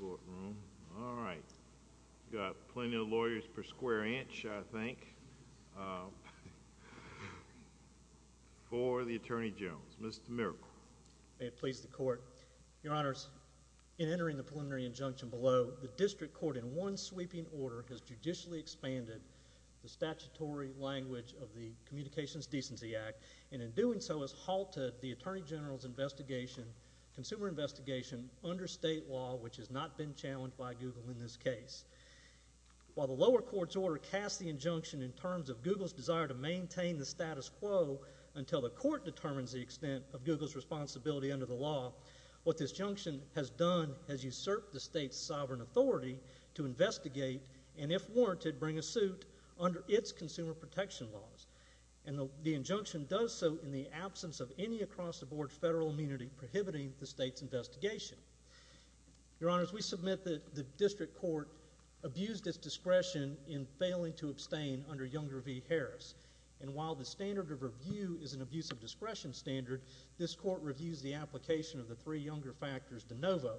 We've got plenty of lawyers per square inch, I think, for the Attorney General. Mr. Miracle. May it please the Court, Your Honors, in entering the preliminary injunction below, the District Court in one sweeping order has judicially expanded the statutory language of the Communications Decency Act, and in doing so, has halted the Attorney General's investigation, consumer under state law, which has not been challenged by Google in this case. While the lower court's order casts the injunction in terms of Google's desire to maintain the status quo until the court determines the extent of Google's responsibility under the law, what this injunction has done is usurp the state's sovereign authority to investigate, and if warranted, bring a suit under its consumer protection laws. And the injunction does so in the absence of any across-the-board federal immunity prohibiting the state's investigation. Your Honors, we submit that the District Court abused its discretion in failing to abstain under Younger v. Harris, and while the standard of review is an abuse of discretion standard, this Court reviews the application of the three Younger factors de novo.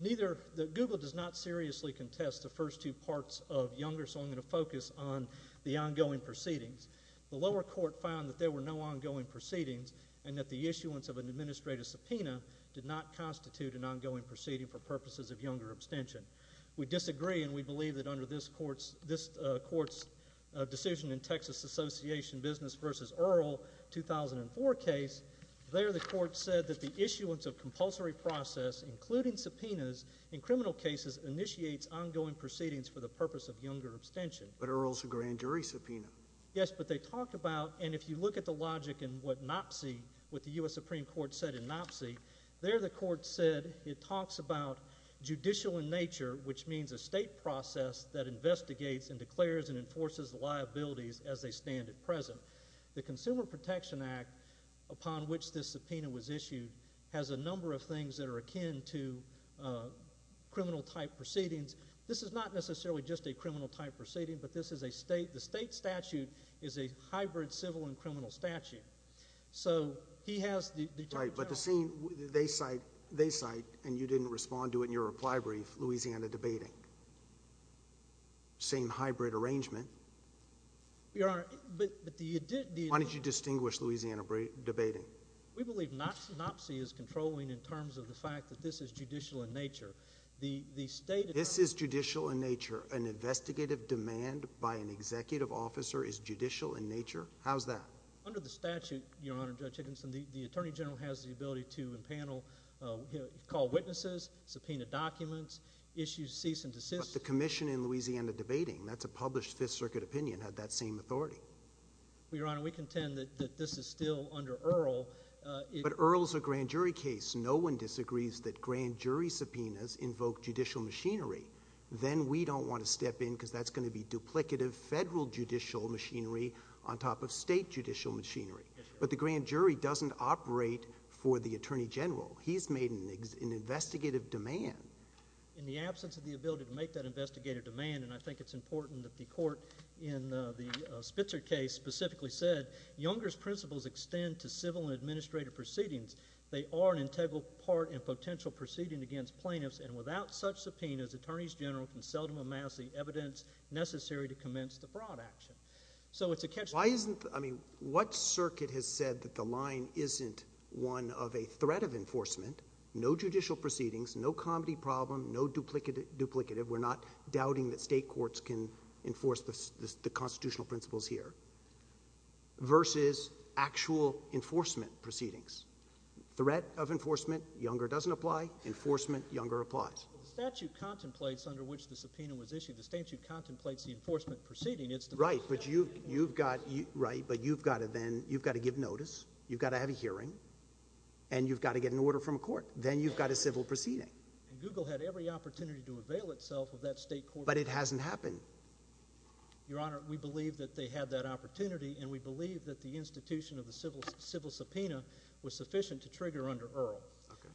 Neither, Google does not seriously contest the first two parts of Younger, so I'm going to focus on the ongoing proceedings. The lower court found that there were no ongoing proceedings, and that the issuance of an administrative subpoena did not constitute an ongoing proceeding for purposes of Younger abstention. We disagree, and we believe that under this Court's decision in Texas Association Business v. Earle, 2004 case, there the Court said that the issuance of compulsory process, including subpoenas in criminal cases, initiates ongoing proceedings for the purpose of Younger abstention. But Earle's a grand jury subpoena. Yes, but they talked about, and if you look at the logic in what NOPC, what the U.S. Supreme Court said in NOPC, there the Court said it talks about judicial in nature, which means a state process that investigates and declares and enforces the liabilities as they stand at present. The Consumer Protection Act, upon which this subpoena was issued, has a number of things that are akin to criminal-type proceedings. This is not necessarily just a criminal-type proceeding, but this is a state—the state statute is a hybrid civil and criminal statute. So, he has the— Right, but the scene, they cite, and you didn't respond to it in your reply brief, Louisiana debating. Same hybrid arrangement. Your Honor, but the— Why did you distinguish Louisiana debating? We believe NOPC is controlling in terms of the fact that this is judicial in nature. The state— This is judicial in nature. An investigative demand by an executive officer is judicial in nature? How's that? Under the statute, Your Honor, Judge Higginson, the Attorney General has the ability to impanel, call witnesses, subpoena documents, issues cease and desist— But the commission in Louisiana debating, that's a published Fifth Circuit opinion, had that same authority. Well, Your Honor, we contend that this is still under Earl— But Earl's a grand jury case. No one disagrees that grand jury subpoenas invoke judicial machinery. Then we don't want to step in because that's going to be duplicative federal judicial machinery on top of state judicial machinery. But the grand jury doesn't operate for the Attorney General. He's made an investigative demand. In the absence of the ability to make that investigative demand, and I think it's important that the court in the Spitzer case specifically said, Younger's principles extend to civil and administrative proceedings. They are an integral part in potential proceeding against plaintiffs and without such subpoenas, Attorneys General can seldom amass the evidence necessary to commence the fraud action. So it's a— Why isn't—I mean, what circuit has said that the line isn't one of a threat of enforcement, no judicial proceedings, no comedy problem, no duplicative—we're not doubting that state courts can enforce the constitutional principles here—versus actual enforcement proceedings? Threat of enforcement, Younger doesn't apply. Enforcement, Younger applies. The statute contemplates under which the subpoena was issued, the statute contemplates the enforcement proceeding. I mean, it's the— Right, but you've got—right, but you've got to then—you've got to give notice, you've got to have a hearing, and you've got to get an order from court. Then you've got a civil proceeding. And Google had every opportunity to avail itself of that state court— But it hasn't happened. Your Honor, we believe that they had that opportunity, and we believe that the institution of the civil subpoena was sufficient to trigger under Earl. Okay.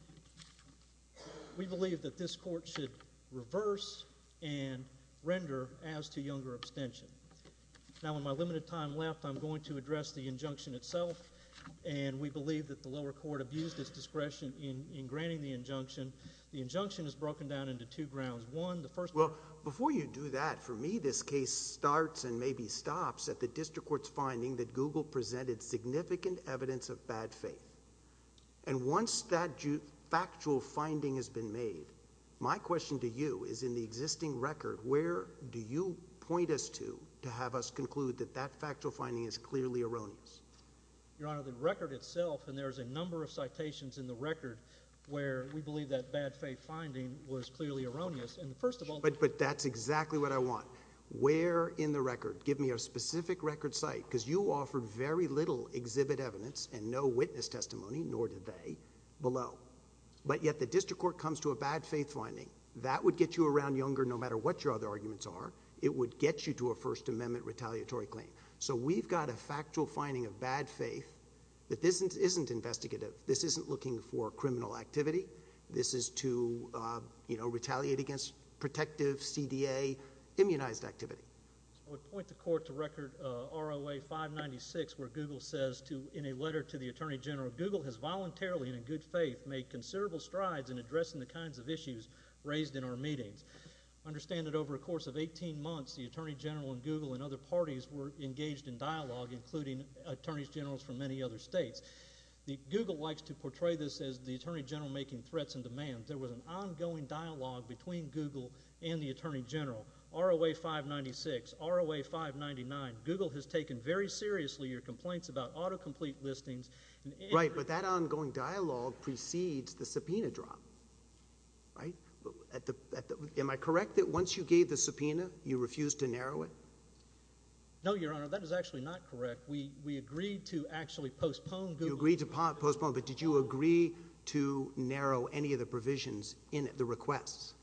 We believe that this court should reverse and render as to Younger abstention. Now, with my limited time left, I'm going to address the injunction itself, and we believe that the lower court abused its discretion in granting the injunction. The injunction is broken down into two grounds. One, the first— Well, before you do that, for me, this case starts and maybe stops at the district court's finding that Google presented significant evidence of bad faith. And once that factual finding has been made, my question to you is, in the existing record, where do you point us to to have us conclude that that factual finding is clearly erroneous? Your Honor, the record itself—and there's a number of citations in the record where we believe that bad faith finding was clearly erroneous. And first of all— But that's exactly what I want. Where in the record? Give me a specific record site, because you offered very little exhibit evidence and no witness testimony, nor did they, below. But yet the district court comes to a bad faith finding. That would get you around Younger, no matter what your other arguments are. It would get you to a First Amendment retaliatory claim. So we've got a factual finding of bad faith that this isn't investigative. This isn't looking for criminal activity. This is to, you know, retaliate against protective CDA, immunized activity. I would point the court to record ROA 596, where Google says, in a letter to the Attorney General, Google has voluntarily and in good faith made considerable strides in addressing the kinds of issues raised in our meetings. Understand that over a course of 18 months, the Attorney General and Google and other parties were engaged in dialogue, including attorneys generals from many other states. Google likes to portray this as the Attorney General making threats and demands. There was an ongoing dialogue between Google and the Attorney General. ROA 596, ROA 599, Google has taken very seriously your complaints about autocomplete listings. Right. But that ongoing dialogue precedes the subpoena drop, right? Am I correct that once you gave the subpoena, you refused to narrow it? No, Your Honor. That is actually not correct. We agreed to actually postpone Google's request. You agreed to postpone. But did you agree to narrow any of the provisions in the requests?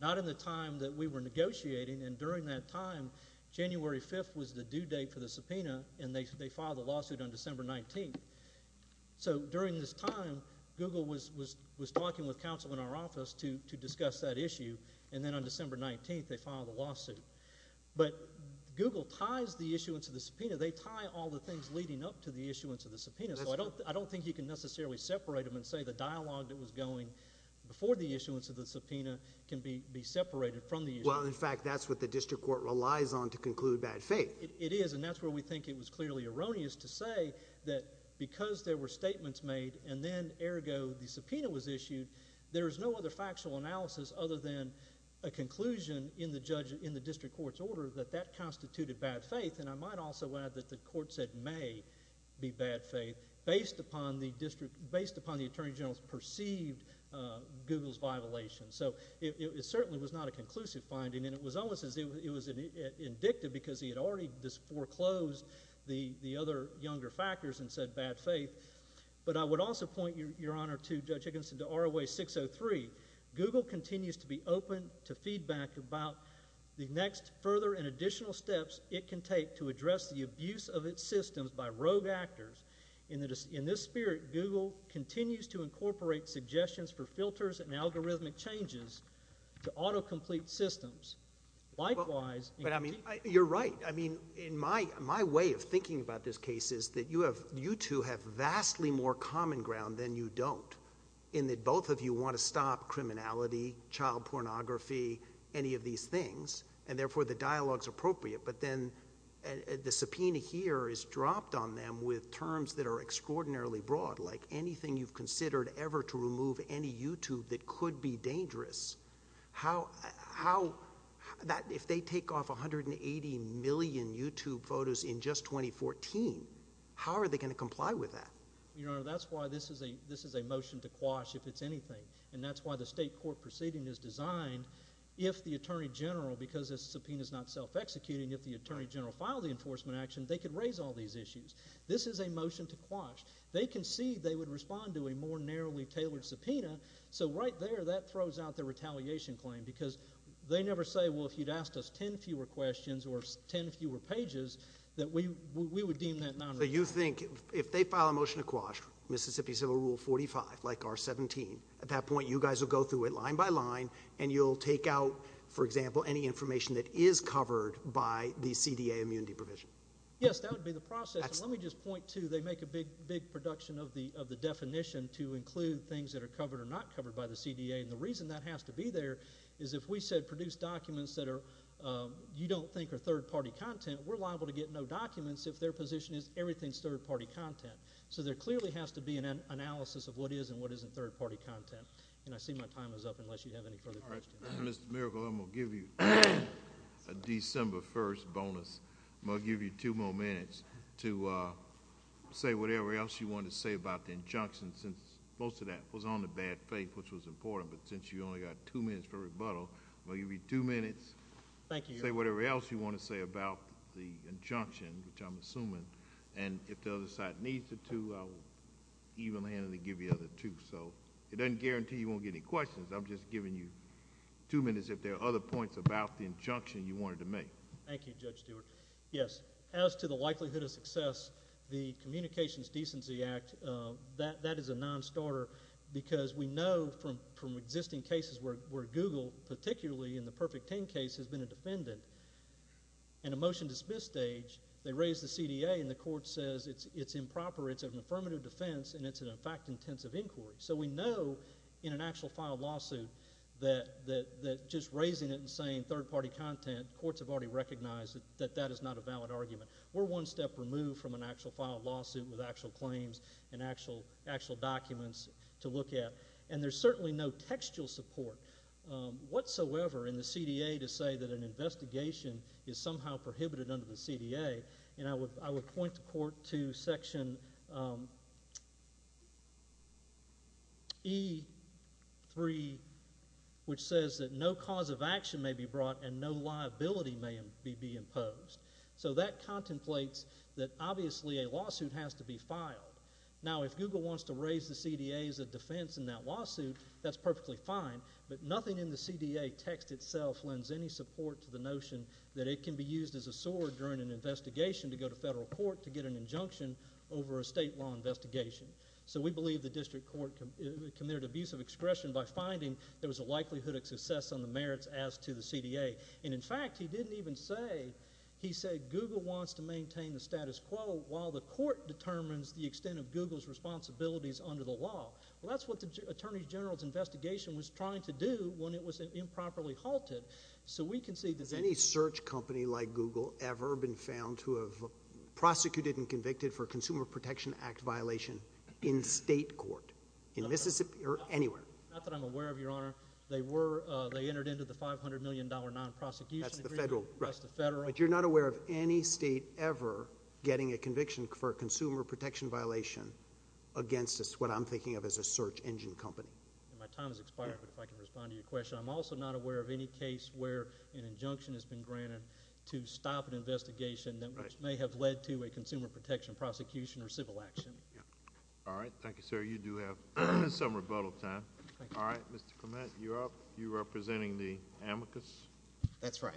Not in the time that we were negotiating, and during that time, January 5th was the due date for the subpoena, and they filed a lawsuit on December 19th. So during this time, Google was talking with counsel in our office to discuss that issue, and then on December 19th, they filed a lawsuit. But Google ties the issuance of the subpoena. They tie all the things leading up to the issuance of the subpoena, so I don't think you can necessarily separate them and say the dialogue that was going before the issuance of the subpoena can be separated from the issue. Well, in fact, that's what the district court relies on to conclude bad faith. It is, and that's where we think it was clearly erroneous to say that because there were statements made and then, ergo, the subpoena was issued, there is no other factual analysis other than a conclusion in the district court's order that that constituted bad faith, and I might also add that the court said may be bad faith based upon the district, based upon the attorney revelation. So it certainly was not a conclusive finding, and it was almost as if it was indicted because he had already foreclosed the other younger factors and said bad faith. But I would also point, Your Honor, to Judge Higginson, to ROA 603. Google continues to be open to feedback about the next further and additional steps it can take to address the abuse of its systems by rogue actors. In this spirit, Google continues to incorporate suggestions for filters and algorithmic changes to auto-complete systems. Likewise— But, I mean, you're right. I mean, in my way of thinking about this case is that you two have vastly more common ground than you don't in that both of you want to stop criminality, child pornography, any of these things, and therefore the dialogue's appropriate, but then the subpoena here is terms that are extraordinarily broad, like anything you've considered ever to remove any YouTube that could be dangerous. How—how—that—if they take off 180 million YouTube photos in just 2014, how are they going to comply with that? Your Honor, that's why this is a—this is a motion to quash if it's anything, and that's why the state court proceeding is designed if the attorney general, because this subpoena is not self-executing, if the attorney general filed the enforcement action, they could raise all these issues. This is a motion to quash. They concede they would respond to a more narrowly tailored subpoena, so right there that throws out the retaliation claim, because they never say, well, if you'd asked us ten fewer questions or ten fewer pages, that we—we would deem that non-reliable. So you think if they file a motion to quash Mississippi Civil Rule 45, like R-17, at that point you guys will go through it line by line, and you'll take out, for example, any information that is covered by the CDA immunity provision? Yes, that would be the process. Let me just point to—they make a big, big production of the definition to include things that are covered or not covered by the CDA, and the reason that has to be there is if we said produce documents that are—you don't think are third-party content, we're liable to get no documents if their position is everything's third-party content. So there clearly has to be an analysis of what is and what isn't third-party content, and I see my time is up, unless you have any further questions. Mr. Miracle, I'm going to give you a December 1st bonus. I'm going to give you two more minutes to say whatever else you want to say about the injunction, since most of that was on the bad faith, which was important, but since you only got two minutes for rebuttal, I'm going to give you two minutes. Thank you, Your Honor. Say whatever else you want to say about the injunction, which I'm assuming, and if the other side needs the two, I'll even-handedly give you the other two. So it doesn't guarantee you won't get any questions. I'm just giving you two minutes if there are other points about the injunction you wanted to make. Thank you, Judge Stewart. Yes, as to the likelihood of success, the Communications Decency Act, that is a non-starter because we know from existing cases where Google, particularly in the Perfect 10 case, has been a defendant. In a motion-dismiss stage, they raise the CDA, and the court says it's improper, it's an affirmative defense, and it's a fact-intensive inquiry. So we know in an actual filed lawsuit that just raising it and saying third-party content, courts have already recognized that that is not a valid argument. We're one step removed from an actual filed lawsuit with actual claims and actual documents to look at, and there's certainly no textual support whatsoever in the CDA to say that an investigation is somehow prohibited under the CDA, and I would point the court to Section E3, which says that no cause of action may be brought and no liability may be imposed. So that contemplates that obviously a lawsuit has to be filed. Now, if Google wants to raise the CDA as a defense in that lawsuit, that's perfectly fine, but nothing in the CDA text itself lends any support to the notion that it can be used as a sword during an investigation to go to federal court to get an injunction over a state law investigation. So we believe the district court committed abusive expression by finding there was a likelihood of success on the merits as to the CDA. And in fact, he didn't even say—he said Google wants to maintain the status quo while the court determines the extent of Google's responsibilities under the law. Well, that's what the Attorney General's investigation was trying to do when it was improperly halted. So we can see that— Has any search company like Google ever been found to have prosecuted and convicted for in state court, in Mississippi or anywhere? Not that I'm aware of, Your Honor. They were—they entered into the $500 million non-prosecution agreement. That's the federal— That's the federal— But you're not aware of any state ever getting a conviction for a consumer protection violation against what I'm thinking of as a search engine company? My time has expired, but if I can respond to your question, I'm also not aware of any case where an injunction has been granted to stop an investigation that may have led to a consumer protection prosecution or civil action. All right. Thank you, sir. You do have some rebuttal time. All right. Mr. Clement, you're up. You're representing the amicus? That's right.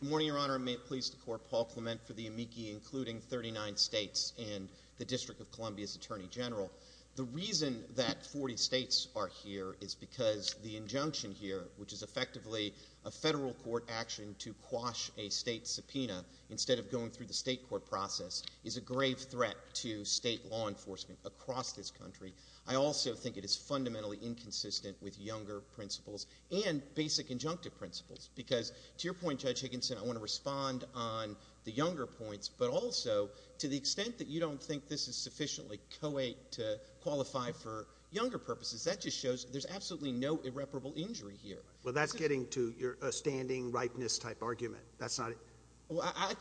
Good morning, Your Honor. I'm pleased to court Paul Clement for the amici including 39 states and the District of Columbia's Attorney General. The reason that 40 states are here is because the injunction here, which is effectively a federal court action to quash a state subpoena instead of going through the state court process, is a grave threat to state law enforcement across this country. I also think it is fundamentally inconsistent with younger principles and basic injunctive principles. Because to your point, Judge Higginson, I want to respond on the younger points, but also to the extent that you don't think this is sufficiently coet to qualify for younger purposes, that just shows there's absolutely no irreparable injury here. Well, that's getting to your standing rightness type argument. That's not—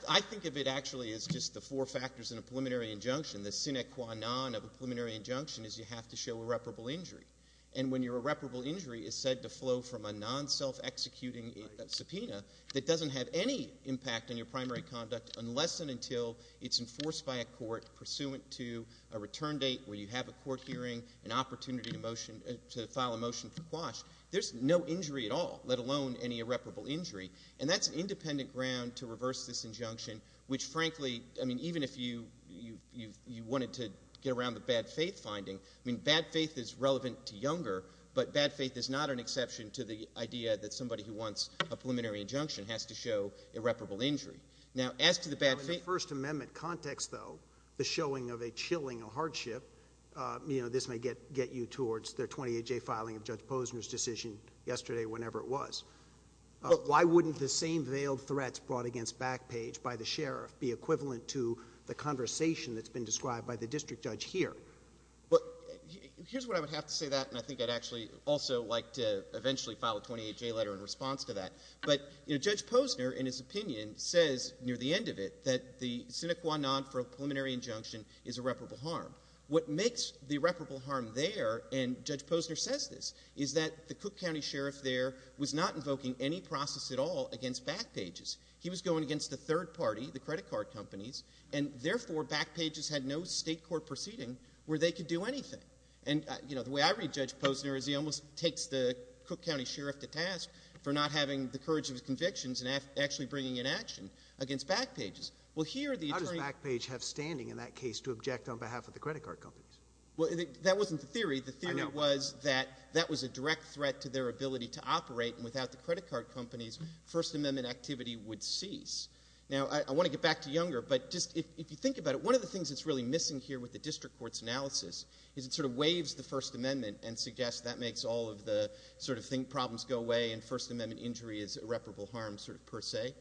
I think of it actually as just the four factors in a preliminary injunction. The sine qua non of a preliminary injunction is you have to show irreparable injury. And when your irreparable injury is said to flow from a non-self-executing subpoena that doesn't have any impact on your primary conduct unless and until it's enforced by a court pursuant to a return date where you have a court hearing, an opportunity to file a motion for quash, there's no injury at all, let alone any irreparable injury. And that's an independent ground to reverse this injunction, which, frankly, I mean, even if you wanted to get around the bad faith finding, I mean, bad faith is relevant to younger, but bad faith is not an exception to the idea that somebody who wants a preliminary injunction has to show irreparable injury. Now, as to the bad faith— On the First Amendment context, though, the showing of a chilling, a hardship, you know, this may get you towards the 28-J filing of Judge Posner's decision yesterday, whenever it was. Why wouldn't the same veiled threats brought against Backpage by the sheriff be equivalent to the conversation that's been described by the district judge here? Well, here's what I would have to say to that, and I think I'd actually also like to eventually file a 28-J letter in response to that. But, you know, Judge Posner, in his opinion, says near the end of it that the sine qua non for a preliminary injunction is irreparable harm. What makes the irreparable harm there, and Judge Posner says this, is that the Cook County Sheriff there was not invoking any process at all against Backpages. He was going against the third party, the credit card companies, and therefore Backpages had no state court proceeding where they could do anything. And, you know, the way I read Judge Posner is he almost takes the Cook County Sheriff to task for not having the courage of his convictions and actually bringing in action against Backpages. Well, here the attorney— How does Backpage have standing in that case to object on behalf of the credit card companies? Well, that wasn't the theory. The theory was that that was a direct threat to their ability to operate, and without the credit card companies, First Amendment activity would cease. Now, I want to get back to Younger, but just if you think about it, one of the things that's really missing here with the district court's analysis is it sort of waives the First Amendment and suggests that makes all of the sort of problems go away and First Amendment injury is irreparable harm sort of per se.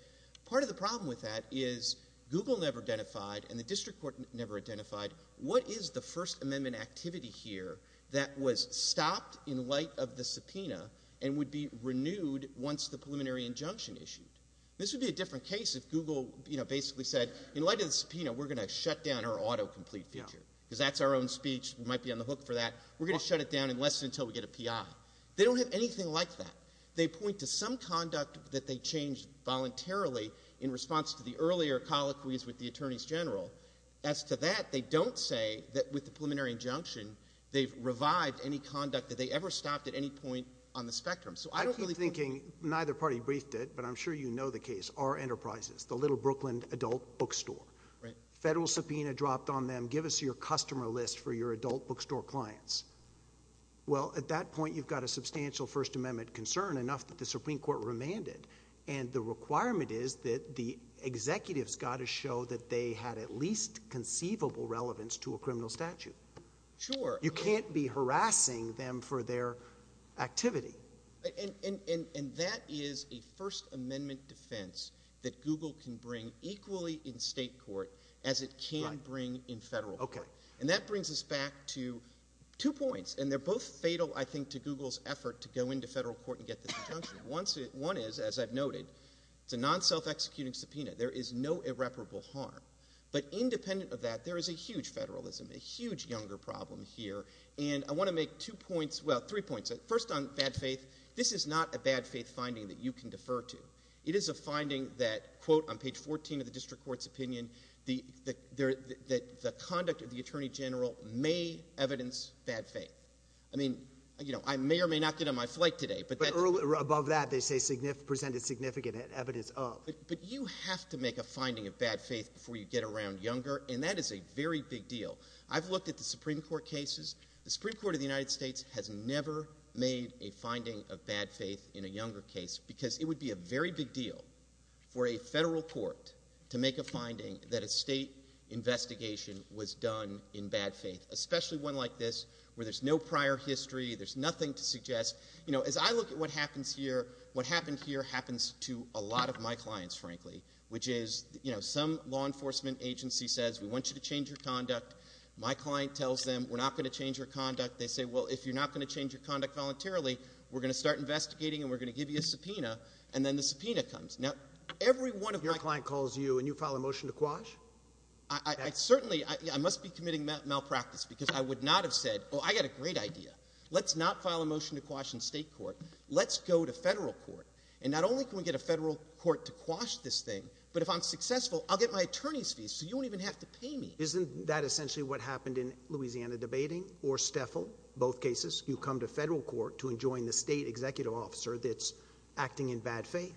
Part of the problem with that is Google never identified and the district court never identified what is the First Amendment activity here that was stopped in light of the subpoena and would be renewed once the preliminary injunction issued. This would be a different case if Google, you know, basically said, in light of the subpoena, we're going to shut down our autocomplete feature because that's our own speech. We might be on the hook for that. We're going to shut it down unless and until we get a PI. They don't have anything like that. They point to some conduct that they changed voluntarily in response to the earlier colloquies with the attorneys general. As to that, they don't say that with the preliminary injunction, they've revived any conduct that they ever stopped at any point on the spectrum. So I don't really— I keep thinking neither party briefed it, but I'm sure you know the case. Our enterprises, the little Brooklyn adult bookstore. Right. Federal subpoena dropped on them. Give us your customer list for your adult bookstore clients. Well, at that point, you've got a substantial First Amendment concern, enough that the Supreme Court has the least conceivable relevance to a criminal statute. Sure. You can't be harassing them for their activity. And that is a First Amendment defense that Google can bring equally in state court as it can bring in federal court. Right. Okay. And that brings us back to two points. And they're both fatal, I think, to Google's effort to go into federal court and get this injunction. One is, as I've noted, it's a non-self-executing subpoena. There is no irreparable harm. But independent of that, there is a huge federalism, a huge younger problem here. And I want to make two points—well, three points. First on bad faith. This is not a bad faith finding that you can defer to. It is a finding that, quote, on page 14 of the district court's opinion, that the conduct of the attorney general may evidence bad faith. I mean, you know, I may or may not get on my flight today. But above that, they say presented significant evidence of. But you have to make a finding of bad faith before you get around younger. And that is a very big deal. I've looked at the Supreme Court cases. The Supreme Court of the United States has never made a finding of bad faith in a younger case because it would be a very big deal for a federal court to make a finding that a state investigation was done in bad faith, especially one like this, where there's no prior history. There's nothing to suggest. You know, as I look at what happens here, what happened here happens to a lot of my clients, frankly, which is, you know, some law enforcement agency says, we want you to change your conduct. My client tells them, we're not going to change your conduct. They say, well, if you're not going to change your conduct voluntarily, we're going to start investigating and we're going to give you a subpoena. And then the subpoena comes. Now, every one of my— Your client calls you and you file a motion to quash? I certainly—I must be committing malpractice because I would not have said, well, I got a great idea. Let's not file a motion to quash in state court. Let's go to federal court. And not only can we get a federal court to quash this thing, but if I'm successful, I'll get my attorney's fees so you won't even have to pay me. Isn't that essentially what happened in Louisiana debating or Steffel, both cases? You come to federal court to enjoin the state executive officer that's acting in bad faith?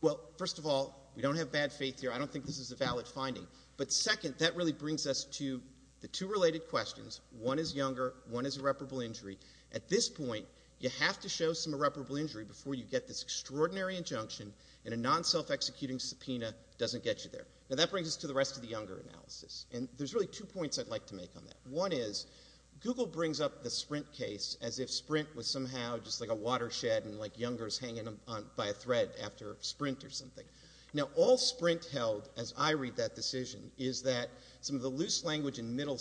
Well, first of all, we don't have bad faith here. I don't think this is a valid finding. But second, that really brings us to the two related questions. One is younger. One is irreparable injury. At this point, you have to show some irreparable injury before you get this extraordinary injunction and a non-self-executing subpoena doesn't get you there. Now, that brings us to the rest of the younger analysis. And there's really two points I'd like to make on that. One is, Google brings up the Sprint case as if Sprint was somehow just like a watershed and like youngers hanging by a thread after a sprint or something. Now, all Sprint held, as I read that decision, is that some of the loose language in middle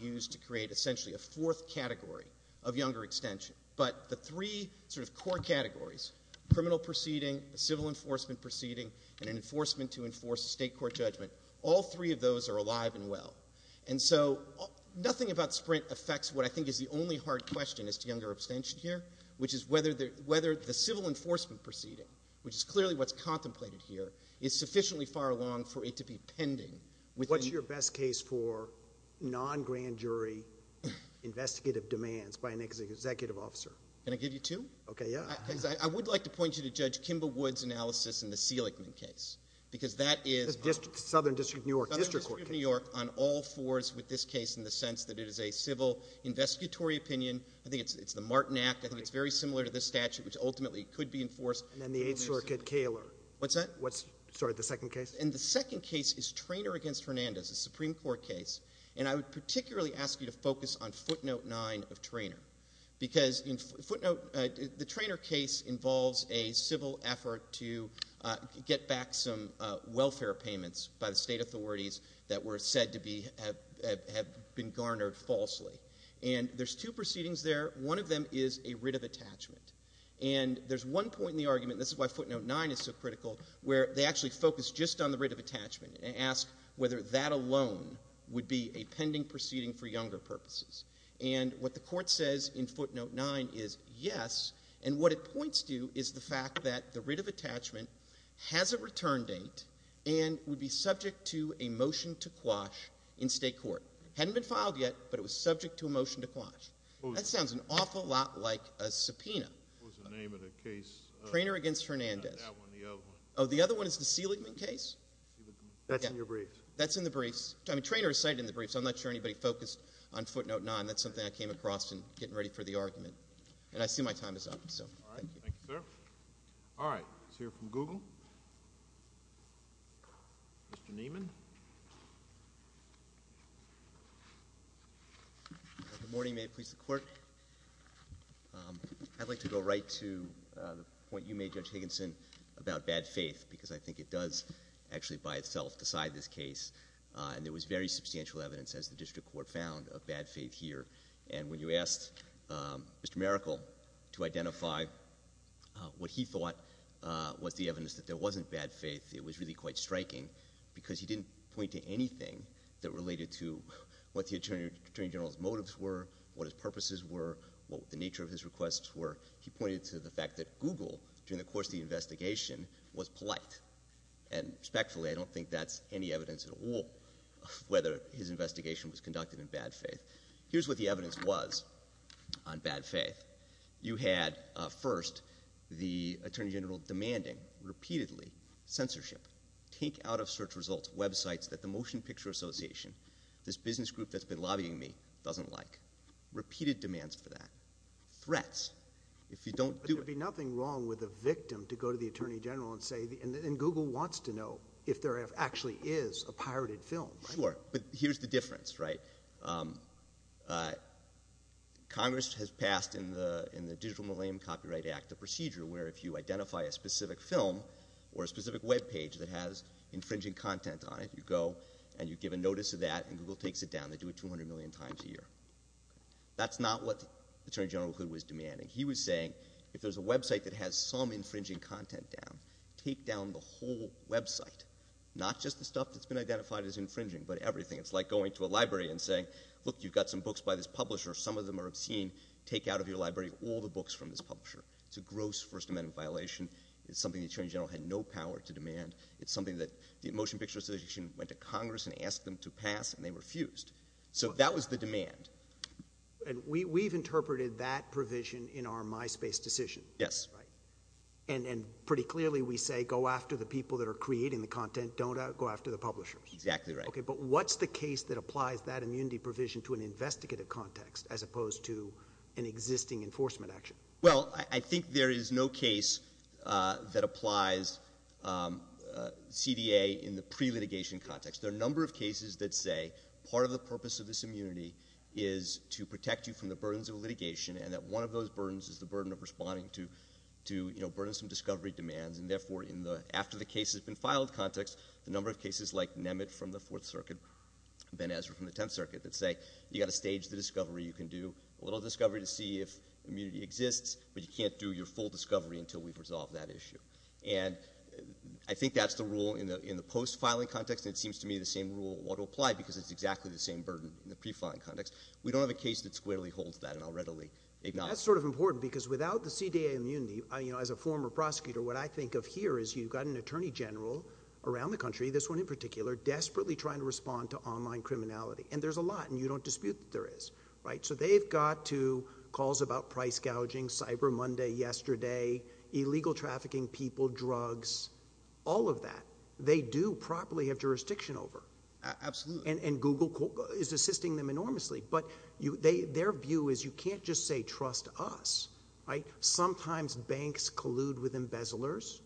use to create essentially a fourth category of younger extension. But the three sort of core categories, criminal proceeding, a civil enforcement proceeding, and an enforcement to enforce a state court judgment, all three of those are alive and well. And so nothing about Sprint affects what I think is the only hard question as to younger abstention here, which is whether the civil enforcement proceeding, which is clearly what's contemplated here, is sufficiently far along for it to be pending. What's your best case for non-grand jury investigative demands by an executive officer? Can I give you two? Okay, yeah. Because I would like to point you to Judge Kimba Wood's analysis in the Seligman case, because that is... Southern District of New York. Southern District of New York on all fours with this case in the sense that it is a civil investigatory opinion. I think it's the Martin Act. I think it's very similar to this statute, which ultimately could be enforced. And then the eighth circuit, Kaler. What's that? What's, sorry, the second case? And the second case is Traynor against Hernandez, a Supreme Court case. And I would particularly ask you to focus on footnote nine of Traynor. Because in footnote... The Traynor case involves a civil effort to get back some welfare payments by the state authorities that were said to have been garnered falsely. And there's two proceedings there. One of them is a writ of attachment. And there's one point in the argument, and this is why footnote nine is so critical, where they actually focus just on the writ of attachment and ask whether that alone would be a pending proceeding for younger purposes. And what the court says in footnote nine is yes. And what it points to is the fact that the writ of attachment has a return date and would be subject to a motion to quash in state court. Hadn't been filed yet, but it was subject to a motion to quash. That sounds an awful lot like a subpoena. What was the name of the case? Traynor against Hernandez. That one, the other one. Oh, the other one is the Seligman case? That's in your briefs. That's in the briefs. I mean, Traynor is cited in the briefs. I'm not sure anybody focused on footnote nine. That's something I came across in getting ready for the argument. And I see my time is up. All right. Thank you, sir. All right. Let's hear from Google. Mr. Nieman. Good morning. May it please the court. I'd like to go right to the point you made, Judge Higginson, about bad faith, because I think it does actually by itself decide this case. And there was very substantial evidence, as the district court found, of bad faith here. And when you asked Mr. Maracle to identify what he thought was the evidence that there wasn't bad faith, it was really quite striking, because he didn't point to anything that related to what the attorney general's motives were, what his purposes were, what the nature of his requests were. He pointed to the fact that Google, during the course of the investigation, was polite. And respectfully, I don't think that's any evidence at all of whether his investigation was conducted in bad faith. Here's what the evidence was on bad faith. You had, first, the attorney general demanding, repeatedly, censorship. Take out of search results websites that the Motion Picture Association, this business group that's been lobbying me, doesn't like. Repeated demands for that. Threats. If you don't do it— But there'd be nothing wrong with a victim to go to the attorney general and say—and Google wants to know if there actually is a pirated film, right? Sure. But here's the difference, right? Congress has passed, in the Digital Millennium Copyright Act, a procedure where if you identify a specific film or a specific webpage that has infringing content on it, you go and you give a notice of that and Google takes it down. They do it 200 million times a year. That's not what the attorney general was demanding. He was saying, if there's a website that has some infringing content down, take down the whole website. Not just the stuff that's been identified as infringing, but everything. It's like going to a library and saying, look, you've got some books by this publisher. Some of them are obscene. Take out of your library all the books from this publisher. It's a gross First Amendment violation. It's something the attorney general had no power to demand. It's something that the Motion Picture Association went to Congress and asked them to pass and they refused. So that was the demand. And we've interpreted that provision in our MySpace decision. Yes. Right. And pretty clearly we say, go after the people that are creating the content. Don't go after the publishers. Exactly right. Okay, but what's the case that applies that immunity provision to an investigative context as opposed to an existing enforcement action? Well, I think there is no case that applies CDA in the pre-litigation context. There are a number of cases that say part of the purpose of this immunity is to protect you from the burdens of litigation and that one of those burdens is the burden of responding to burdensome discovery demands. And therefore, after the case has been filed context, the number of cases like Nemet from the Fourth Circuit, Ben Ezra from the Tenth Circuit, that say you've got to stage the lists, but you can't do your full discovery until we've resolved that issue. And I think that's the rule in the post-filing context and it seems to me the same rule ought to apply because it's exactly the same burden in the pre-filing context. We don't have a case that squarely holds that and I'll readily ignore it. That's sort of important because without the CDA immunity, you know, as a former prosecutor, what I think of here is you've got an attorney general around the country, this one in particular, desperately trying to respond to online criminality. And there's a lot and you don't dispute that there is, right? So they've got to calls about price gouging, Cyber Monday yesterday, illegal trafficking people, drugs, all of that. They do properly have jurisdiction over. Absolutely. And Google is assisting them enormously. But their view is you can't just say trust us, right? Sometimes banks collude with embezzlers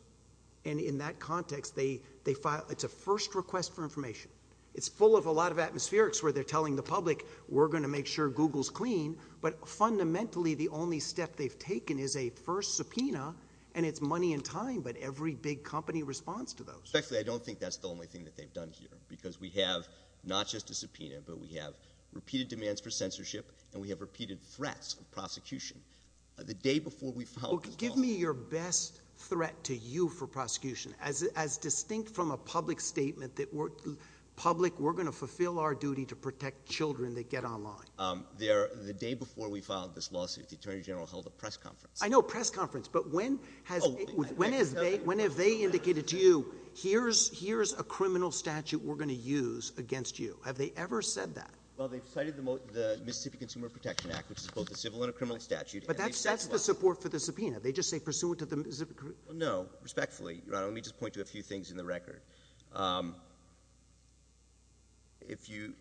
and in that context, they file, it's a first request for information. It's full of a lot of atmospherics where they're telling the public, we're going to make sure Google's clean. But fundamentally, the only step they've taken is a first subpoena and it's money and time, but every big company responds to those. Actually, I don't think that's the only thing that they've done here because we have not just a subpoena, but we have repeated demands for censorship and we have repeated threats of prosecution. The day before we filed- Give me your best threat to you for prosecution. As distinct from a public statement that we're public, we're going to fulfill our duty to the day before we filed this lawsuit, the Attorney General held a press conference. I know, press conference. But when have they indicated to you, here's a criminal statute we're going to use against you? Have they ever said that? Well, they've cited the Mississippi Consumer Protection Act, which is both a civil and a criminal statute. But that's the support for the subpoena. They just say pursuant to the Mississippi- No. Respectfully, let me just point to a few things in the record. If you...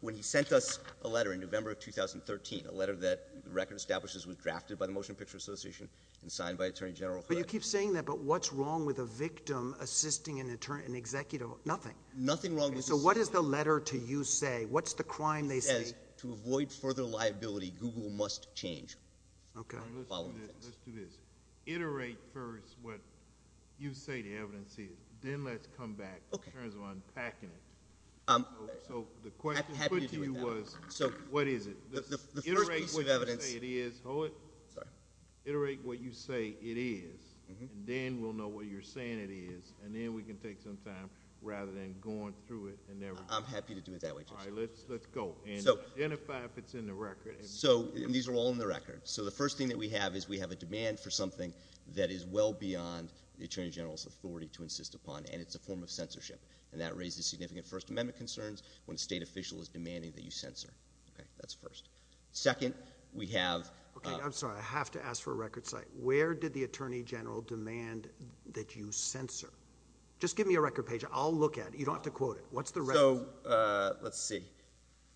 When he sent us a letter in November of 2013, a letter that the record establishes was drafted by the Motion Picture Association and signed by Attorney General- But you keep saying that, but what's wrong with a victim assisting an executive? Nothing. Nothing wrong with- So what does the letter to you say? What's the crime they say? To avoid further liability, Google must change. Okay. Let's do this. Iterate first what you say the evidence is, then let's come back in terms of unpacking it. So the question put to you was, what is it? Iterate what you say it is, hold it. Sorry. Iterate what you say it is, and then we'll know what you're saying it is. And then we can take some time, rather than going through it and never- I'm happy to do it that way, Judge. All right, let's go. And identify if it's in the record. So these are all in the record. So the first thing that we have is we have a demand for something that is well beyond the Attorney General's authority to insist upon, and it's a form of censorship. And that raises significant First Amendment concerns when a state official is demanding that you censor. Okay, that's first. Second, we have- Okay, I'm sorry. I have to ask for a record site. Where did the Attorney General demand that you censor? Just give me a record page. I'll look at it. You don't have to quote it. What's the record? So let's see.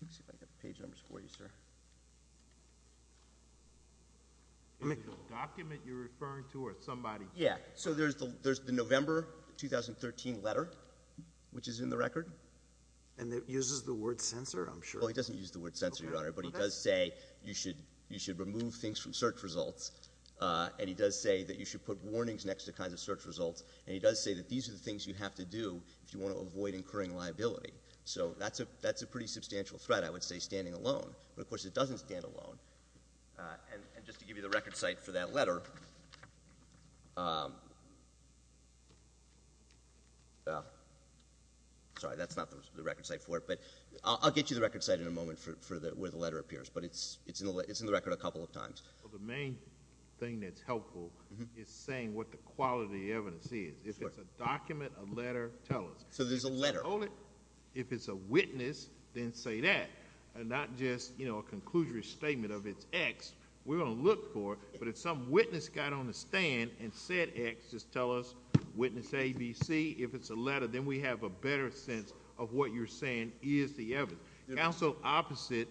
Let's see if I have page numbers for you, sir. Is it the document you're referring to or somebody- Yeah. So there's the November 2013 letter, which is in the record. And it uses the word censor, I'm sure. Well, it doesn't use the word censor, Your Honor. But it does say you should remove things from search results. And it does say that you should put warnings next to kinds of search results. And it does say that these are the things you have to do if you want to avoid incurring liability. So that's a pretty substantial threat, I would say, standing alone. But of course, it doesn't stand alone. And just to give you the record site for that letter. Sorry, that's not the record site for it. But I'll get you the record site in a moment for where the letter appears. But it's in the record a couple of times. Well, the main thing that's helpful is saying what the quality of the evidence is. If it's a document, a letter, tell us. So there's a letter. Only if it's a witness, then say that. And not just a conclusory statement of it's X. We're going to look for it. But if some witness got on the stand and said X, just tell us. Witness A, B, C. If it's a letter, then we have a better sense of what you're saying is the evidence. Counsel opposite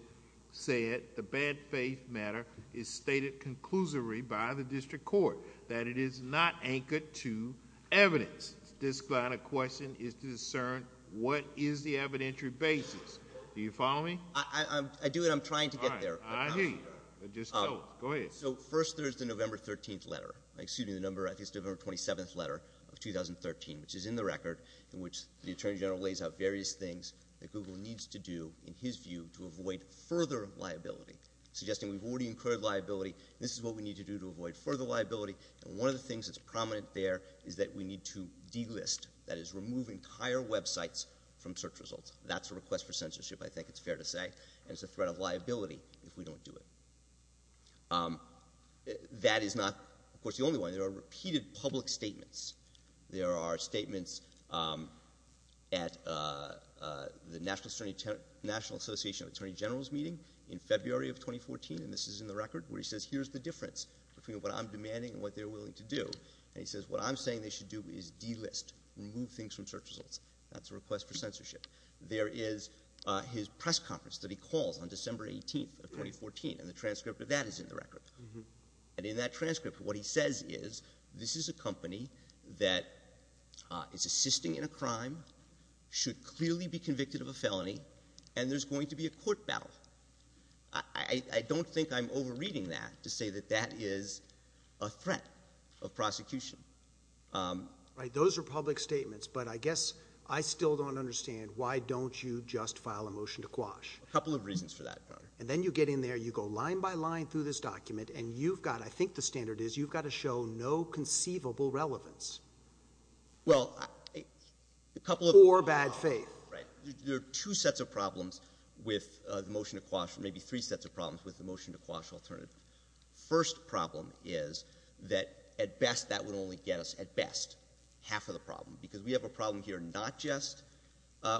said the bad faith matter is stated conclusively by the district court. That it is not anchored to evidence. This kind of question is to discern what is the evidentiary basis. Do you follow me? I do, and I'm trying to get there. I hear you, but just tell us. Go ahead. So first, there's the November 13th letter. Excuse me, the number, I think it's the November 27th letter of 2013, which is in the record, in which the Attorney General lays out various things that Google needs to do, in his view, to avoid further liability. Suggesting we've already incurred liability. This is what we need to do to avoid further liability. And one of the things that's prominent there is that we need to delist. That is, remove entire websites from search results. That's a request for censorship, I think it's fair to say. And it's a threat of liability if we don't do it. That is not, of course, the only one. There are repeated public statements. There are statements at the National Association of Attorney Generals meeting in February of 2014, and this is in the record, where he says, here's the difference between what I'm demanding and what they're willing to do. And he says, what I'm saying they should do is delist. Remove things from search results. That's a request for censorship. There is his press conference that he calls on December 18th of 2014, and the transcript of that is in the record. And in that transcript, what he says is, this is a company that is assisting in a crime, should clearly be convicted of a felony, and there's going to be a court battle. I don't think I'm over-reading that to say that that is a threat of prosecution. Right, those are public statements. But I guess I still don't understand, why don't you just file a motion to quash? A couple of reasons for that, Your Honor. And then you get in there, you go line by line through this document, and you've got, I think the standard is, you've got to show no conceivable relevance. Well, a couple of— Or bad faith. Right. There are two sets of problems with the motion to quash, or maybe three sets of problems with the motion to quash alternative. First problem is that, at best, that would only get us, at best, half of the problem, because we have a problem here, not just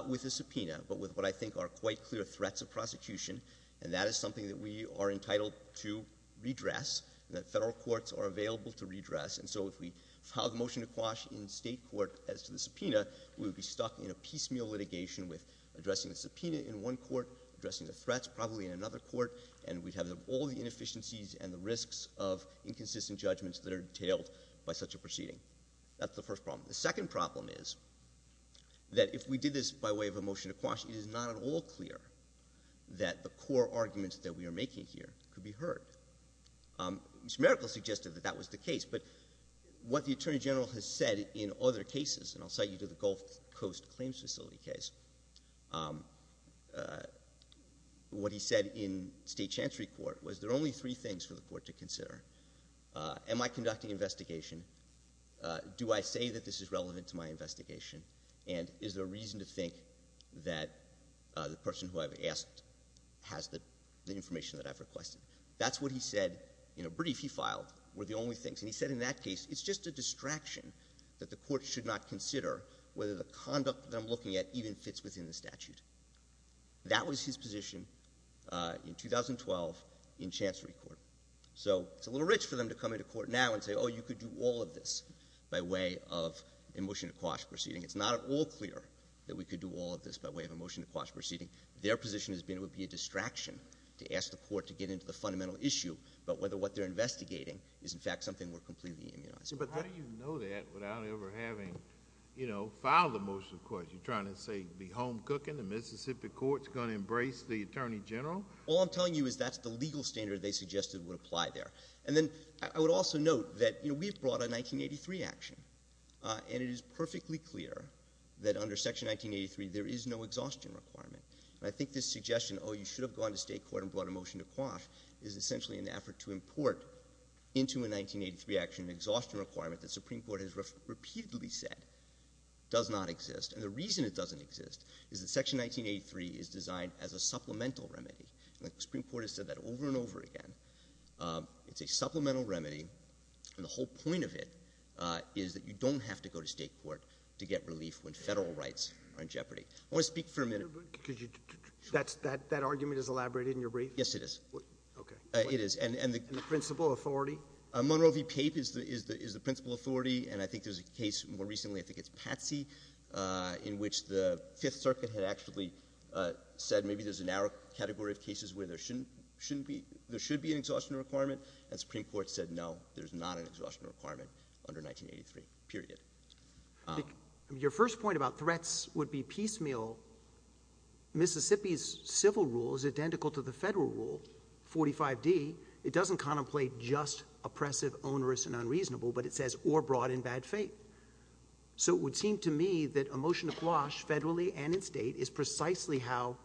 with the subpoena, but with what I think are quite clear threats of prosecution. And that is something that we are entitled to redress, and that federal courts are available to redress. And so if we file the motion to quash in state court as to the subpoena, we would be stuck in a piecemeal litigation with addressing the subpoena in one court, addressing the threats probably in another court, and we'd have all the inefficiencies and the risks of inconsistent judgments that are entailed by such a proceeding. That's the first problem. The second problem is that, if we did this by way of a motion to quash, it is not at all clear that the core arguments that we are making here could be heard. Mr. Merkle suggested that that was the case, but what the Attorney General has said in other cases— and I'll cite you to the Gulf Coast Claims Facility case— what he said in state chancery court was, there are only three things for the court to consider. Am I conducting investigation? Do I say that this is relevant to my investigation? And is there a reason to think that the person who I've asked has the information that I've requested? That's what he said in a brief he filed were the only things. And he said in that case, it's just a distraction that the court should not consider whether the conduct that I'm looking at even fits within the statute. That was his position in 2012 in chancery court. So it's a little rich for them to come into court now and say, oh, you could do all of this by way of a motion to quash proceeding. It's not at all clear that we could do all of this by way of a motion to quash proceeding. Their position has been it would be a distraction to ask the court to get into the fundamental issue about whether what they're investigating is, in fact, something we're completely immunizing. But how do you know that without ever having, you know, filed a motion to quash? You're trying to say be home cooking? The Mississippi court's going to embrace the Attorney General? All I'm telling you is that's the legal standard they suggested would apply there. And then I would also note that, you know, we've brought a 1983 action. And it is perfectly clear that under Section 1983, there is no exhaustion requirement. And I think this suggestion, oh, you should have gone to state court and brought a motion to quash, is essentially an effort to import into a 1983 action an exhaustion requirement that the Supreme Court has repeatedly said does not exist. And the reason it doesn't exist is that Section 1983 is designed as a supplemental remedy. And the Supreme Court has said that over and over again. It's a supplemental remedy. And the whole point of it is that you don't have to go to state court to get relief when federal rights are in jeopardy. I want to speak for a minute. That's that argument is elaborated in your brief? Yes, it is. Okay. It is. And the principal authority? Monroe v. Pape is the principal authority. And I think there's a case more recently, I think it's Patsy, in which the Fifth Circuit had actually said maybe there's a narrow category of cases where there should be an exhaustion requirement. And the Supreme Court said, no, there's not an exhaustion requirement under 1983, period. Your first point about threats would be piecemeal. Mississippi's civil rule is identical to the federal rule, 45D. It doesn't contemplate just oppressive, onerous, and unreasonable, but it says or brought in bad faith. So it would seem to me that a motion to quash federally and in state is precisely how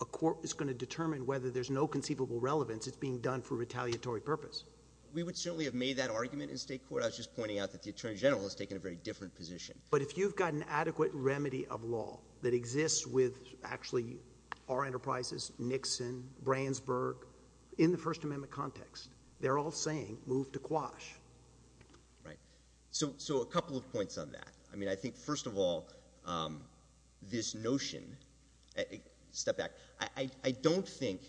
a court is going to determine whether there's no conceivable relevance. It's being done for retaliatory purpose. We would certainly have made that argument in state court. I was just pointing out that the Attorney General has taken a very different position. But if you've got an adequate remedy of law that exists with actually our enterprises, Nixon, Brandsburg, in the First Amendment context, they're all saying move to quash. Right. So a couple of points on that. I think, first of all, this notion—step back. I don't think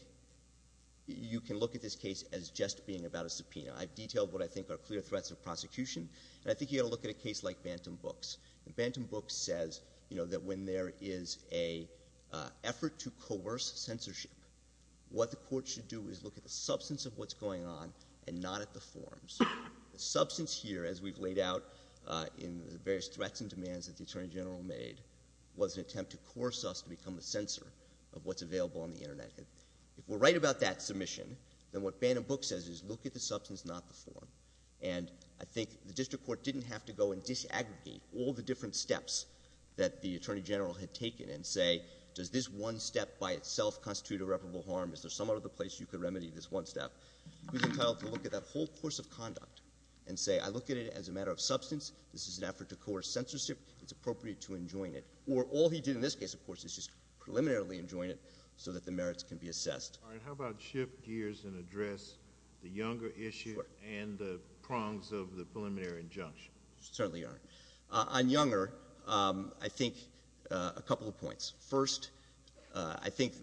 you can look at this case as just being about a subpoena. I've detailed what I think are clear threats of prosecution. And I think you've got to look at a case like Bantam Books. Bantam Books says that when there is an effort to coerce censorship, what the court should do is look at the substance of what's going on and not at the forms. The substance here, as we've laid out in the various threats and demands that the Attorney General made, was an attempt to coerce us to become a censor of what's available on the Internet. If we're right about that submission, then what Bantam Books says is look at the substance, not the form. And I think the district court didn't have to go and disaggregate all the different steps that the Attorney General had taken and say, does this one step by itself constitute irreparable harm? Is there some other place you could remedy this one step? He was entitled to look at that whole course of conduct and say, I look at it as a matter of substance. This is an effort to coerce censorship. It's appropriate to enjoin it. Or all he did in this case, of course, is just preliminarily enjoin it so that the merits can be assessed. All right. How about shift gears and address the Younger issue and the prongs of the preliminary injunction? Certainly, Your Honor. On Younger, I think a couple of points. First, I think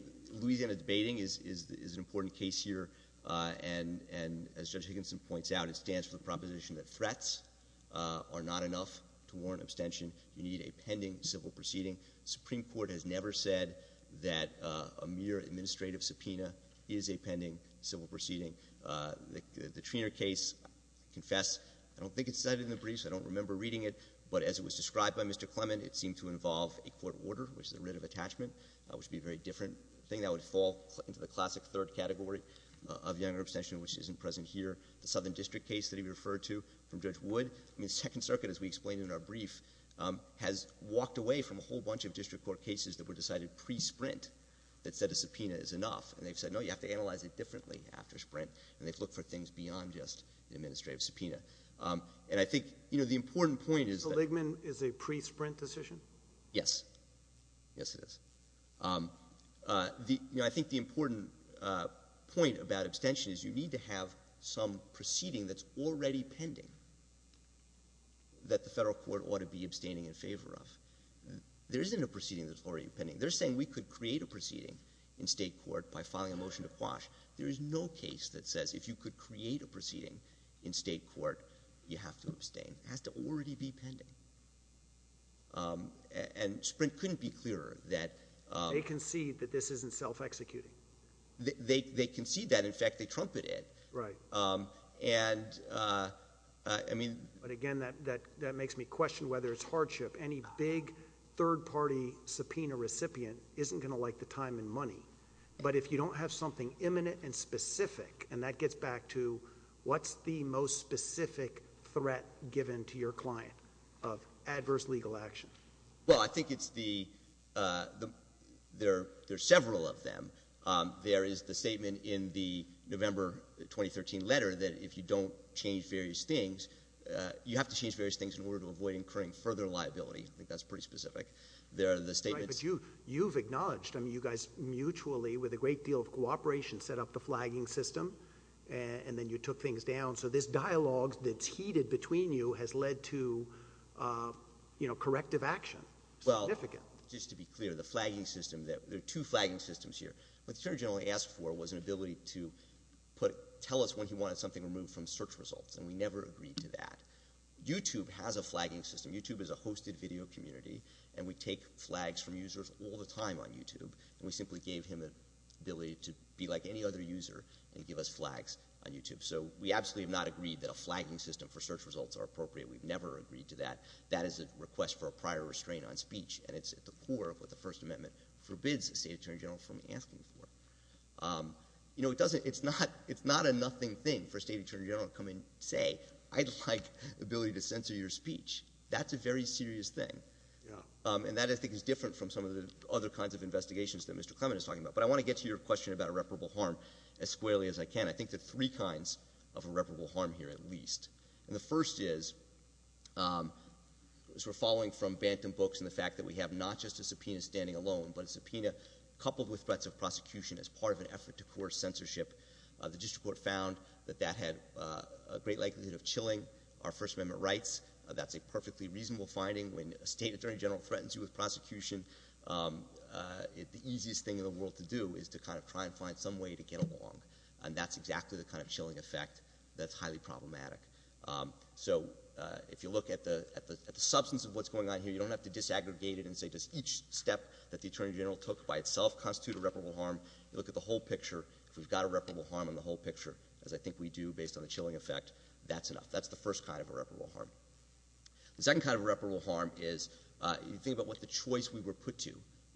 Louisiana debating is an important case here. And as Judge Higginson points out, it stands for the proposition that threats are not enough to warrant abstention. You need a pending civil proceeding. Supreme Court has never said that a mere administrative subpoena is a pending civil proceeding. The Treanor case, I confess, I don't think it's cited in the briefs. I don't remember reading it. But as it was described by Mr. Clement, it seemed to involve a court order, which the would be a very different thing. That would fall into the classic third category of Younger abstention, which isn't present here. The Southern District case that he referred to from Judge Wood. I mean, Second Circuit, as we explained in our brief, has walked away from a whole bunch of district court cases that were decided pre-sprint that said a subpoena is enough. And they've said, no, you have to analyze it differently after sprint. And they've looked for things beyond just the administrative subpoena. And I think the important point is that— So Ligman is a pre-sprint decision? Yes. Yes, it is. I think the important point about abstention is you need to have some proceeding that's already pending that the federal court ought to be abstaining in favor of. There isn't a proceeding that's already pending. They're saying we could create a proceeding in state court by filing a motion to quash. There is no case that says if you could create a proceeding in state court, you have to abstain. It has to already be pending. And Sprint couldn't be clearer that— They concede that this isn't self-executing. They concede that. In fact, they trumpeted it. Right. And I mean— But again, that makes me question whether it's hardship. Any big third-party subpoena recipient isn't going to like the time and money. But if you don't have something imminent and specific, and that gets back to what's the most specific threat given to your client? Of adverse legal action. Well, I think it's the— There are several of them. There is the statement in the November 2013 letter that if you don't change various things, you have to change various things in order to avoid incurring further liability. I think that's pretty specific. There are the statements— Right, but you've acknowledged. I mean, you guys mutually, with a great deal of cooperation, set up the flagging system, and then you took things down. So this dialogue that's heated between you has led to corrective action. It's significant. Well, just to be clear, the flagging system— There are two flagging systems here. What the Attorney General asked for was an ability to tell us when he wanted something removed from search results, and we never agreed to that. YouTube has a flagging system. YouTube is a hosted video community, and we take flags from users all the time on YouTube, and we simply gave him the ability to be like any other user and give us flags on YouTube. So we absolutely have not agreed that a flagging system for search results are appropriate. We've never agreed to that. That is a request for a prior restraint on speech, and it's at the core of what the First Amendment forbids the State Attorney General from asking for. You know, it doesn't—it's not a nothing thing for a State Attorney General to come and say, I'd like the ability to censor your speech. That's a very serious thing, and that, I think, is different from some of the other kinds of investigations that Mr. Clement is talking about. But I want to get to your question about irreparable harm as squarely as I can. I think there are three kinds of irreparable harm here, at least. And the first is, as we're following from Bantam books and the fact that we have not just a subpoena standing alone, but a subpoena coupled with threats of prosecution as part of an effort to coerce censorship, the district court found that that had a great likelihood of chilling our First Amendment rights. That's a perfectly reasonable finding. When a State Attorney General threatens you with prosecution, the easiest thing in the world to do is to kind of try and find some way to get along. And that's exactly the kind of chilling effect that's highly problematic. So if you look at the substance of what's going on here, you don't have to disaggregate it and say, does each step that the Attorney General took by itself constitute irreparable harm? You look at the whole picture. If we've got irreparable harm in the whole picture, as I think we do based on the chilling effect, that's enough. That's the first kind of irreparable harm. The second kind of irreparable harm is, you think about what the choice we were put to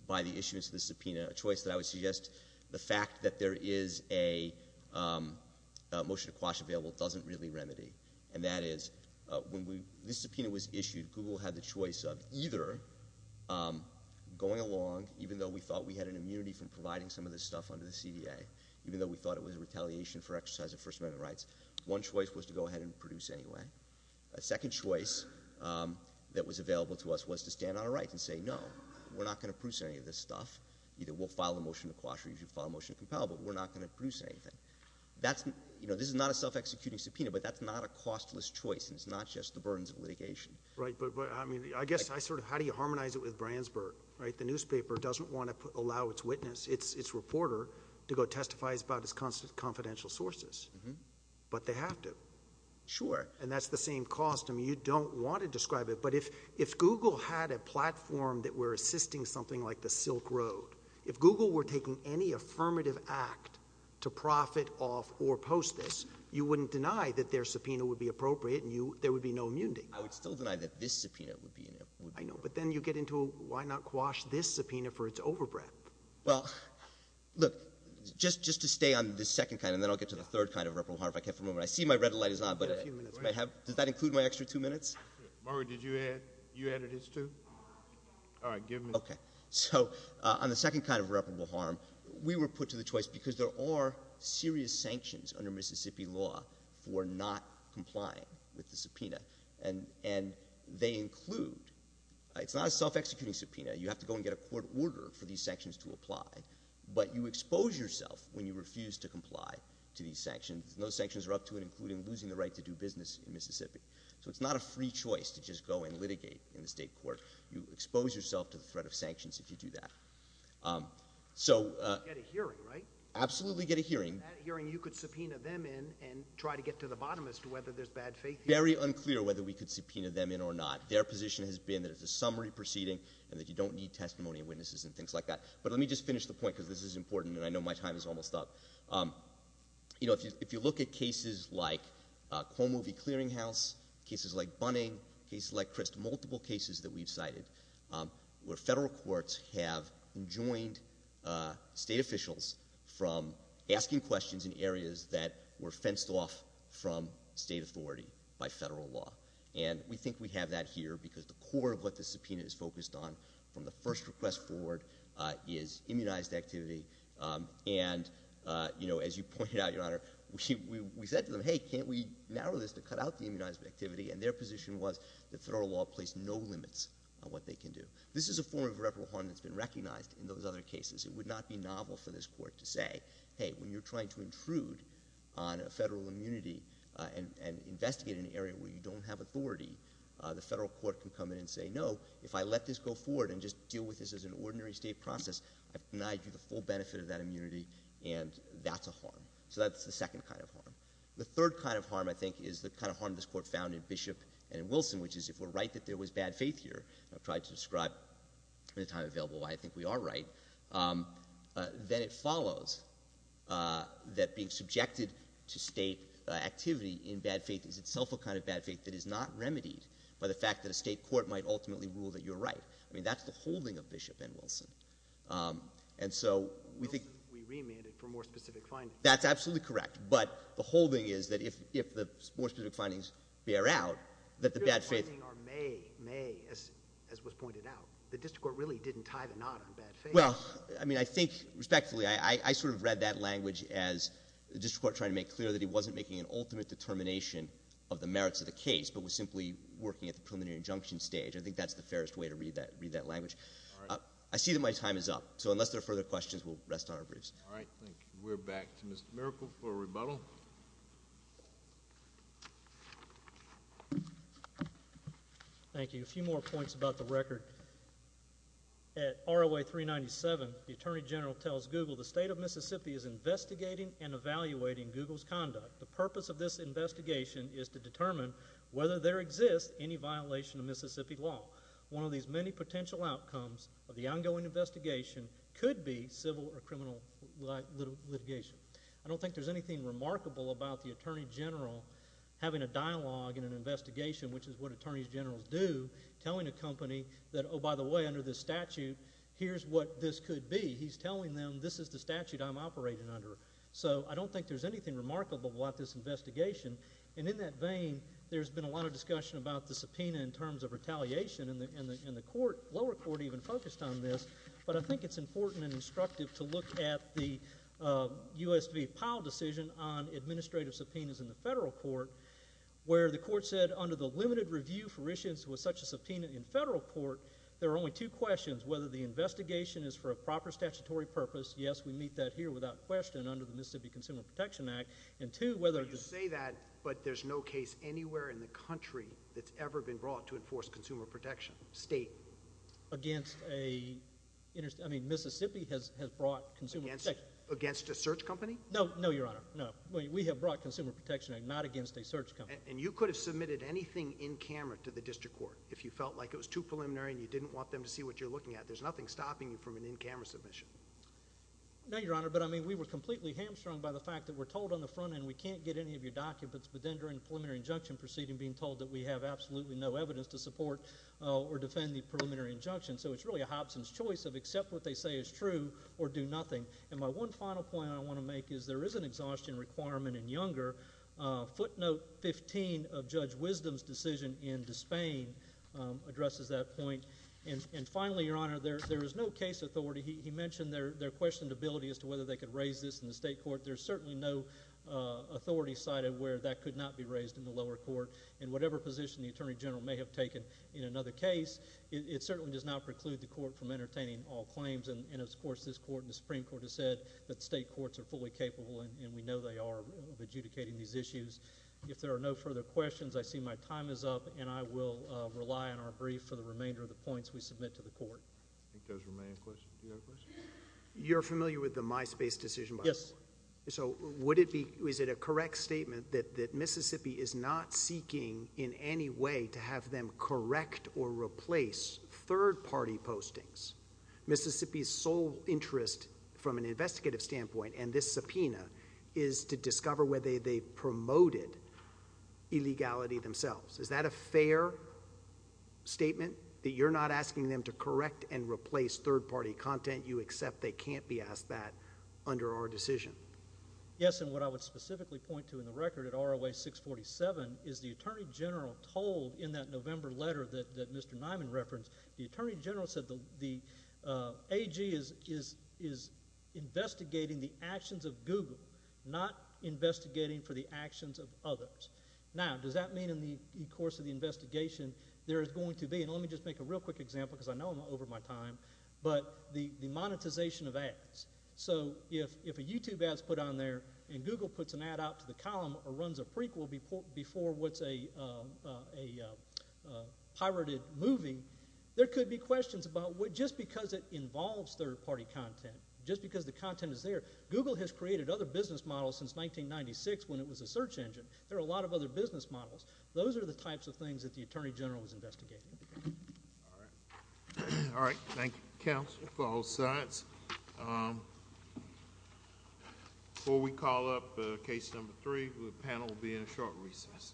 by the issuance of the subpoena, a choice that I would suggest, the fact that there is a motion to quash available doesn't really remedy. And that is, when this subpoena was issued, Google had the choice of either going along, even though we thought we had an immunity from providing some of this stuff under the CDA, even though we thought it was a retaliation for exercising First Amendment rights, one choice was to go ahead and produce anyway. A second choice that was available to us was to stand on our rights and say, no, we're not going to produce any of this stuff. Either we'll file a motion to quash or you should file a motion to compel, but we're not going to produce anything. That's, you know, this is not a self-executing subpoena, but that's not a costless choice and it's not just the burdens of litigation. Right, but I mean, I guess I sort of, how do you harmonize it with Brandsburg, right? The newspaper doesn't want to allow its witness, its reporter, to go testify about its confidential sources, but they have to. Sure. And that's the same cost. I mean, you don't want to describe it, but if Google had a platform that were assisting something like the Silk Road, if Google were taking any affirmative act to profit off or post this, you wouldn't deny that their subpoena would be appropriate and you, there would be no immunity. I would still deny that this subpoena would be inappropriate. I know, but then you get into why not quash this subpoena for its overbreadth? Well, look, just, just to stay on the second kind and then I'll get to the third kind of reparable harm if I can for a moment. I see my red light is on, but does that include my extra two minutes? Margaret, did you add, you added his two? All right, give him. So on the second kind of reparable harm, we were put to the choice because there are serious sanctions under Mississippi law for not complying with the subpoena and, and they include, it's not a self-executing subpoena. You have to go and get a court order for these sanctions to apply, but you expose yourself when you refuse to comply to these sanctions. No sanctions are up to it, including losing the right to do business in Mississippi. So it's not a free choice to just go and litigate in the state court. You expose yourself to the threat of sanctions if you do that. So... Get a hearing, right? Absolutely get a hearing. And that hearing you could subpoena them in and try to get to the bottom as to whether there's bad faith here. Very unclear whether we could subpoena them in or not. Their position has been that it's a summary proceeding and that you don't need testimony of witnesses and things like that. But let me just finish the point because this is important and I know my time is almost up. You know, if you, if you look at cases like Cuomo v. Clearinghouse, cases like Bunning, cases like Crist, multiple cases that we've cited where federal courts have joined state officials from asking questions in areas that were fenced off from state authority by federal law. And we think we have that here because the core of what the subpoena is focused on from the first request forward is immunized activity. And, you know, as you pointed out, Your Honor, we said to them, hey, can't we narrow this to cut out the immunized activity? And their position was that federal law placed no limits on what they can do. This is a form of irreparable harm that's been recognized in those other cases. It would not be novel for this court to say, hey, when you're trying to intrude on a federal immunity and investigate an area where you don't have authority, the federal court can come in and say, no, if I let this go forward and just deal with this as an ordinary state process, I've denied you the full benefit of that immunity and that's a harm. So that's the second kind of harm. The third kind of harm, I think, is the kind of harm this Court found in Bishop and Wilson, which is if we're right that there was bad faith here, I've tried to describe in the time available why I think we are right, then it follows that being subjected to state activity in bad faith is itself a kind of bad faith that is not remedied by the fact that a state court might ultimately rule that you're right. I mean, that's the holding of Bishop and Wilson. And so we think— Wilson, we remanded for more specific findings. That's absolutely correct. But the holding is that if the more specific findings bear out, that the bad faith— The specific findings are may, may, as was pointed out. The district court really didn't tie the knot on bad faith. Well, I mean, I think, respectfully, I sort of read that language as the district court trying to make clear that he wasn't making an ultimate determination of the merits of the case, but was simply working at the preliminary injunction stage. I think that's the fairest way to read that language. I see that my time is up. So unless there are further questions, we'll rest on our briefs. All right. Thank you. We're back to Mr. Miracle for a rebuttal. Thank you. A few more points about the record. At ROA 397, the Attorney General tells Google the state of Mississippi is investigating and evaluating Google's conduct. The purpose of this investigation is to determine whether there exists any violation of Mississippi law. Litigation. I don't think there's anything remarkable about the Attorney General having a dialogue in an investigation, which is what attorneys generals do, telling a company that, oh, by the way, under this statute, here's what this could be. He's telling them, this is the statute I'm operating under. So I don't think there's anything remarkable about this investigation. And in that vein, there's been a lot of discussion about the subpoena in terms of retaliation, and the lower court even focused on this. But I think it's important and instructive to look at the U.S. v. Powell decision on administrative subpoenas in the federal court, where the court said under the limited review for issuance with such a subpoena in federal court, there are only two questions. Whether the investigation is for a proper statutory purpose. Yes, we meet that here without question under the Mississippi Consumer Protection Act. And two, whether— You say that, but there's no case anywhere in the country that's ever been brought to enforce consumer protection. State. Against a—I mean, Mississippi has brought consumer protection. Against a search company? No, no, Your Honor. No, we have brought Consumer Protection Act, not against a search company. And you could have submitted anything in camera to the district court if you felt like it was too preliminary and you didn't want them to see what you're looking at. There's nothing stopping you from an in-camera submission. No, Your Honor, but I mean, we were completely hamstrung by the fact that we're told on the front end, we can't get any of your documents, but then during the preliminary injunction proceeding, being told that we have absolutely no evidence to support or defend the preliminary injunction, so it's really a Hobson's choice of accept what they say is true or do nothing. And my one final point I want to make is there is an exhaustion requirement in Younger. Footnote 15 of Judge Wisdom's decision in Despain addresses that point. And finally, Your Honor, there is no case authority—he mentioned their questioned ability as to whether they could raise this in the state court. There's certainly no authority cited where that could not be raised in the lower court and whatever position the Attorney General may have taken in another case, it certainly does not preclude the court from entertaining all claims. And of course, this court and the Supreme Court has said that state courts are fully capable and we know they are of adjudicating these issues. If there are no further questions, I see my time is up and I will rely on our brief for the remainder of the points we submit to the court. I think there's a remaining question. Do you have a question? You're familiar with the MySpace decision by the court? Yes. So would it be—is it a correct statement that Mississippi is not seeking in any way to have them correct or replace third-party postings? Mississippi's sole interest from an investigative standpoint and this subpoena is to discover whether they promoted illegality themselves. Is that a fair statement that you're not asking them to correct and replace third-party content? You accept they can't be asked that under our decision? Yes, and what I would specifically point to in the record at ROA 647 is the Attorney General told in that November letter that Mr. Nyman referenced, the Attorney General said the AG is investigating the actions of Google, not investigating for the actions of others. Now, does that mean in the course of the investigation, there is going to be—and let me just make a real quick example because I know I'm over my time—but the monetization of ads. So if a YouTube ad is put on there and Google puts an ad out to the column or runs a prequel before what's a pirated movie, there could be questions about just because it involves third-party content, just because the content is there. Google has created other business models since 1996 when it was a search engine. There are a lot of other business models. Those are the types of things that the Attorney General is investigating. All right. All right. Thank you, counsel. If all sides—before we call up case number three, the panel will be in a short recess.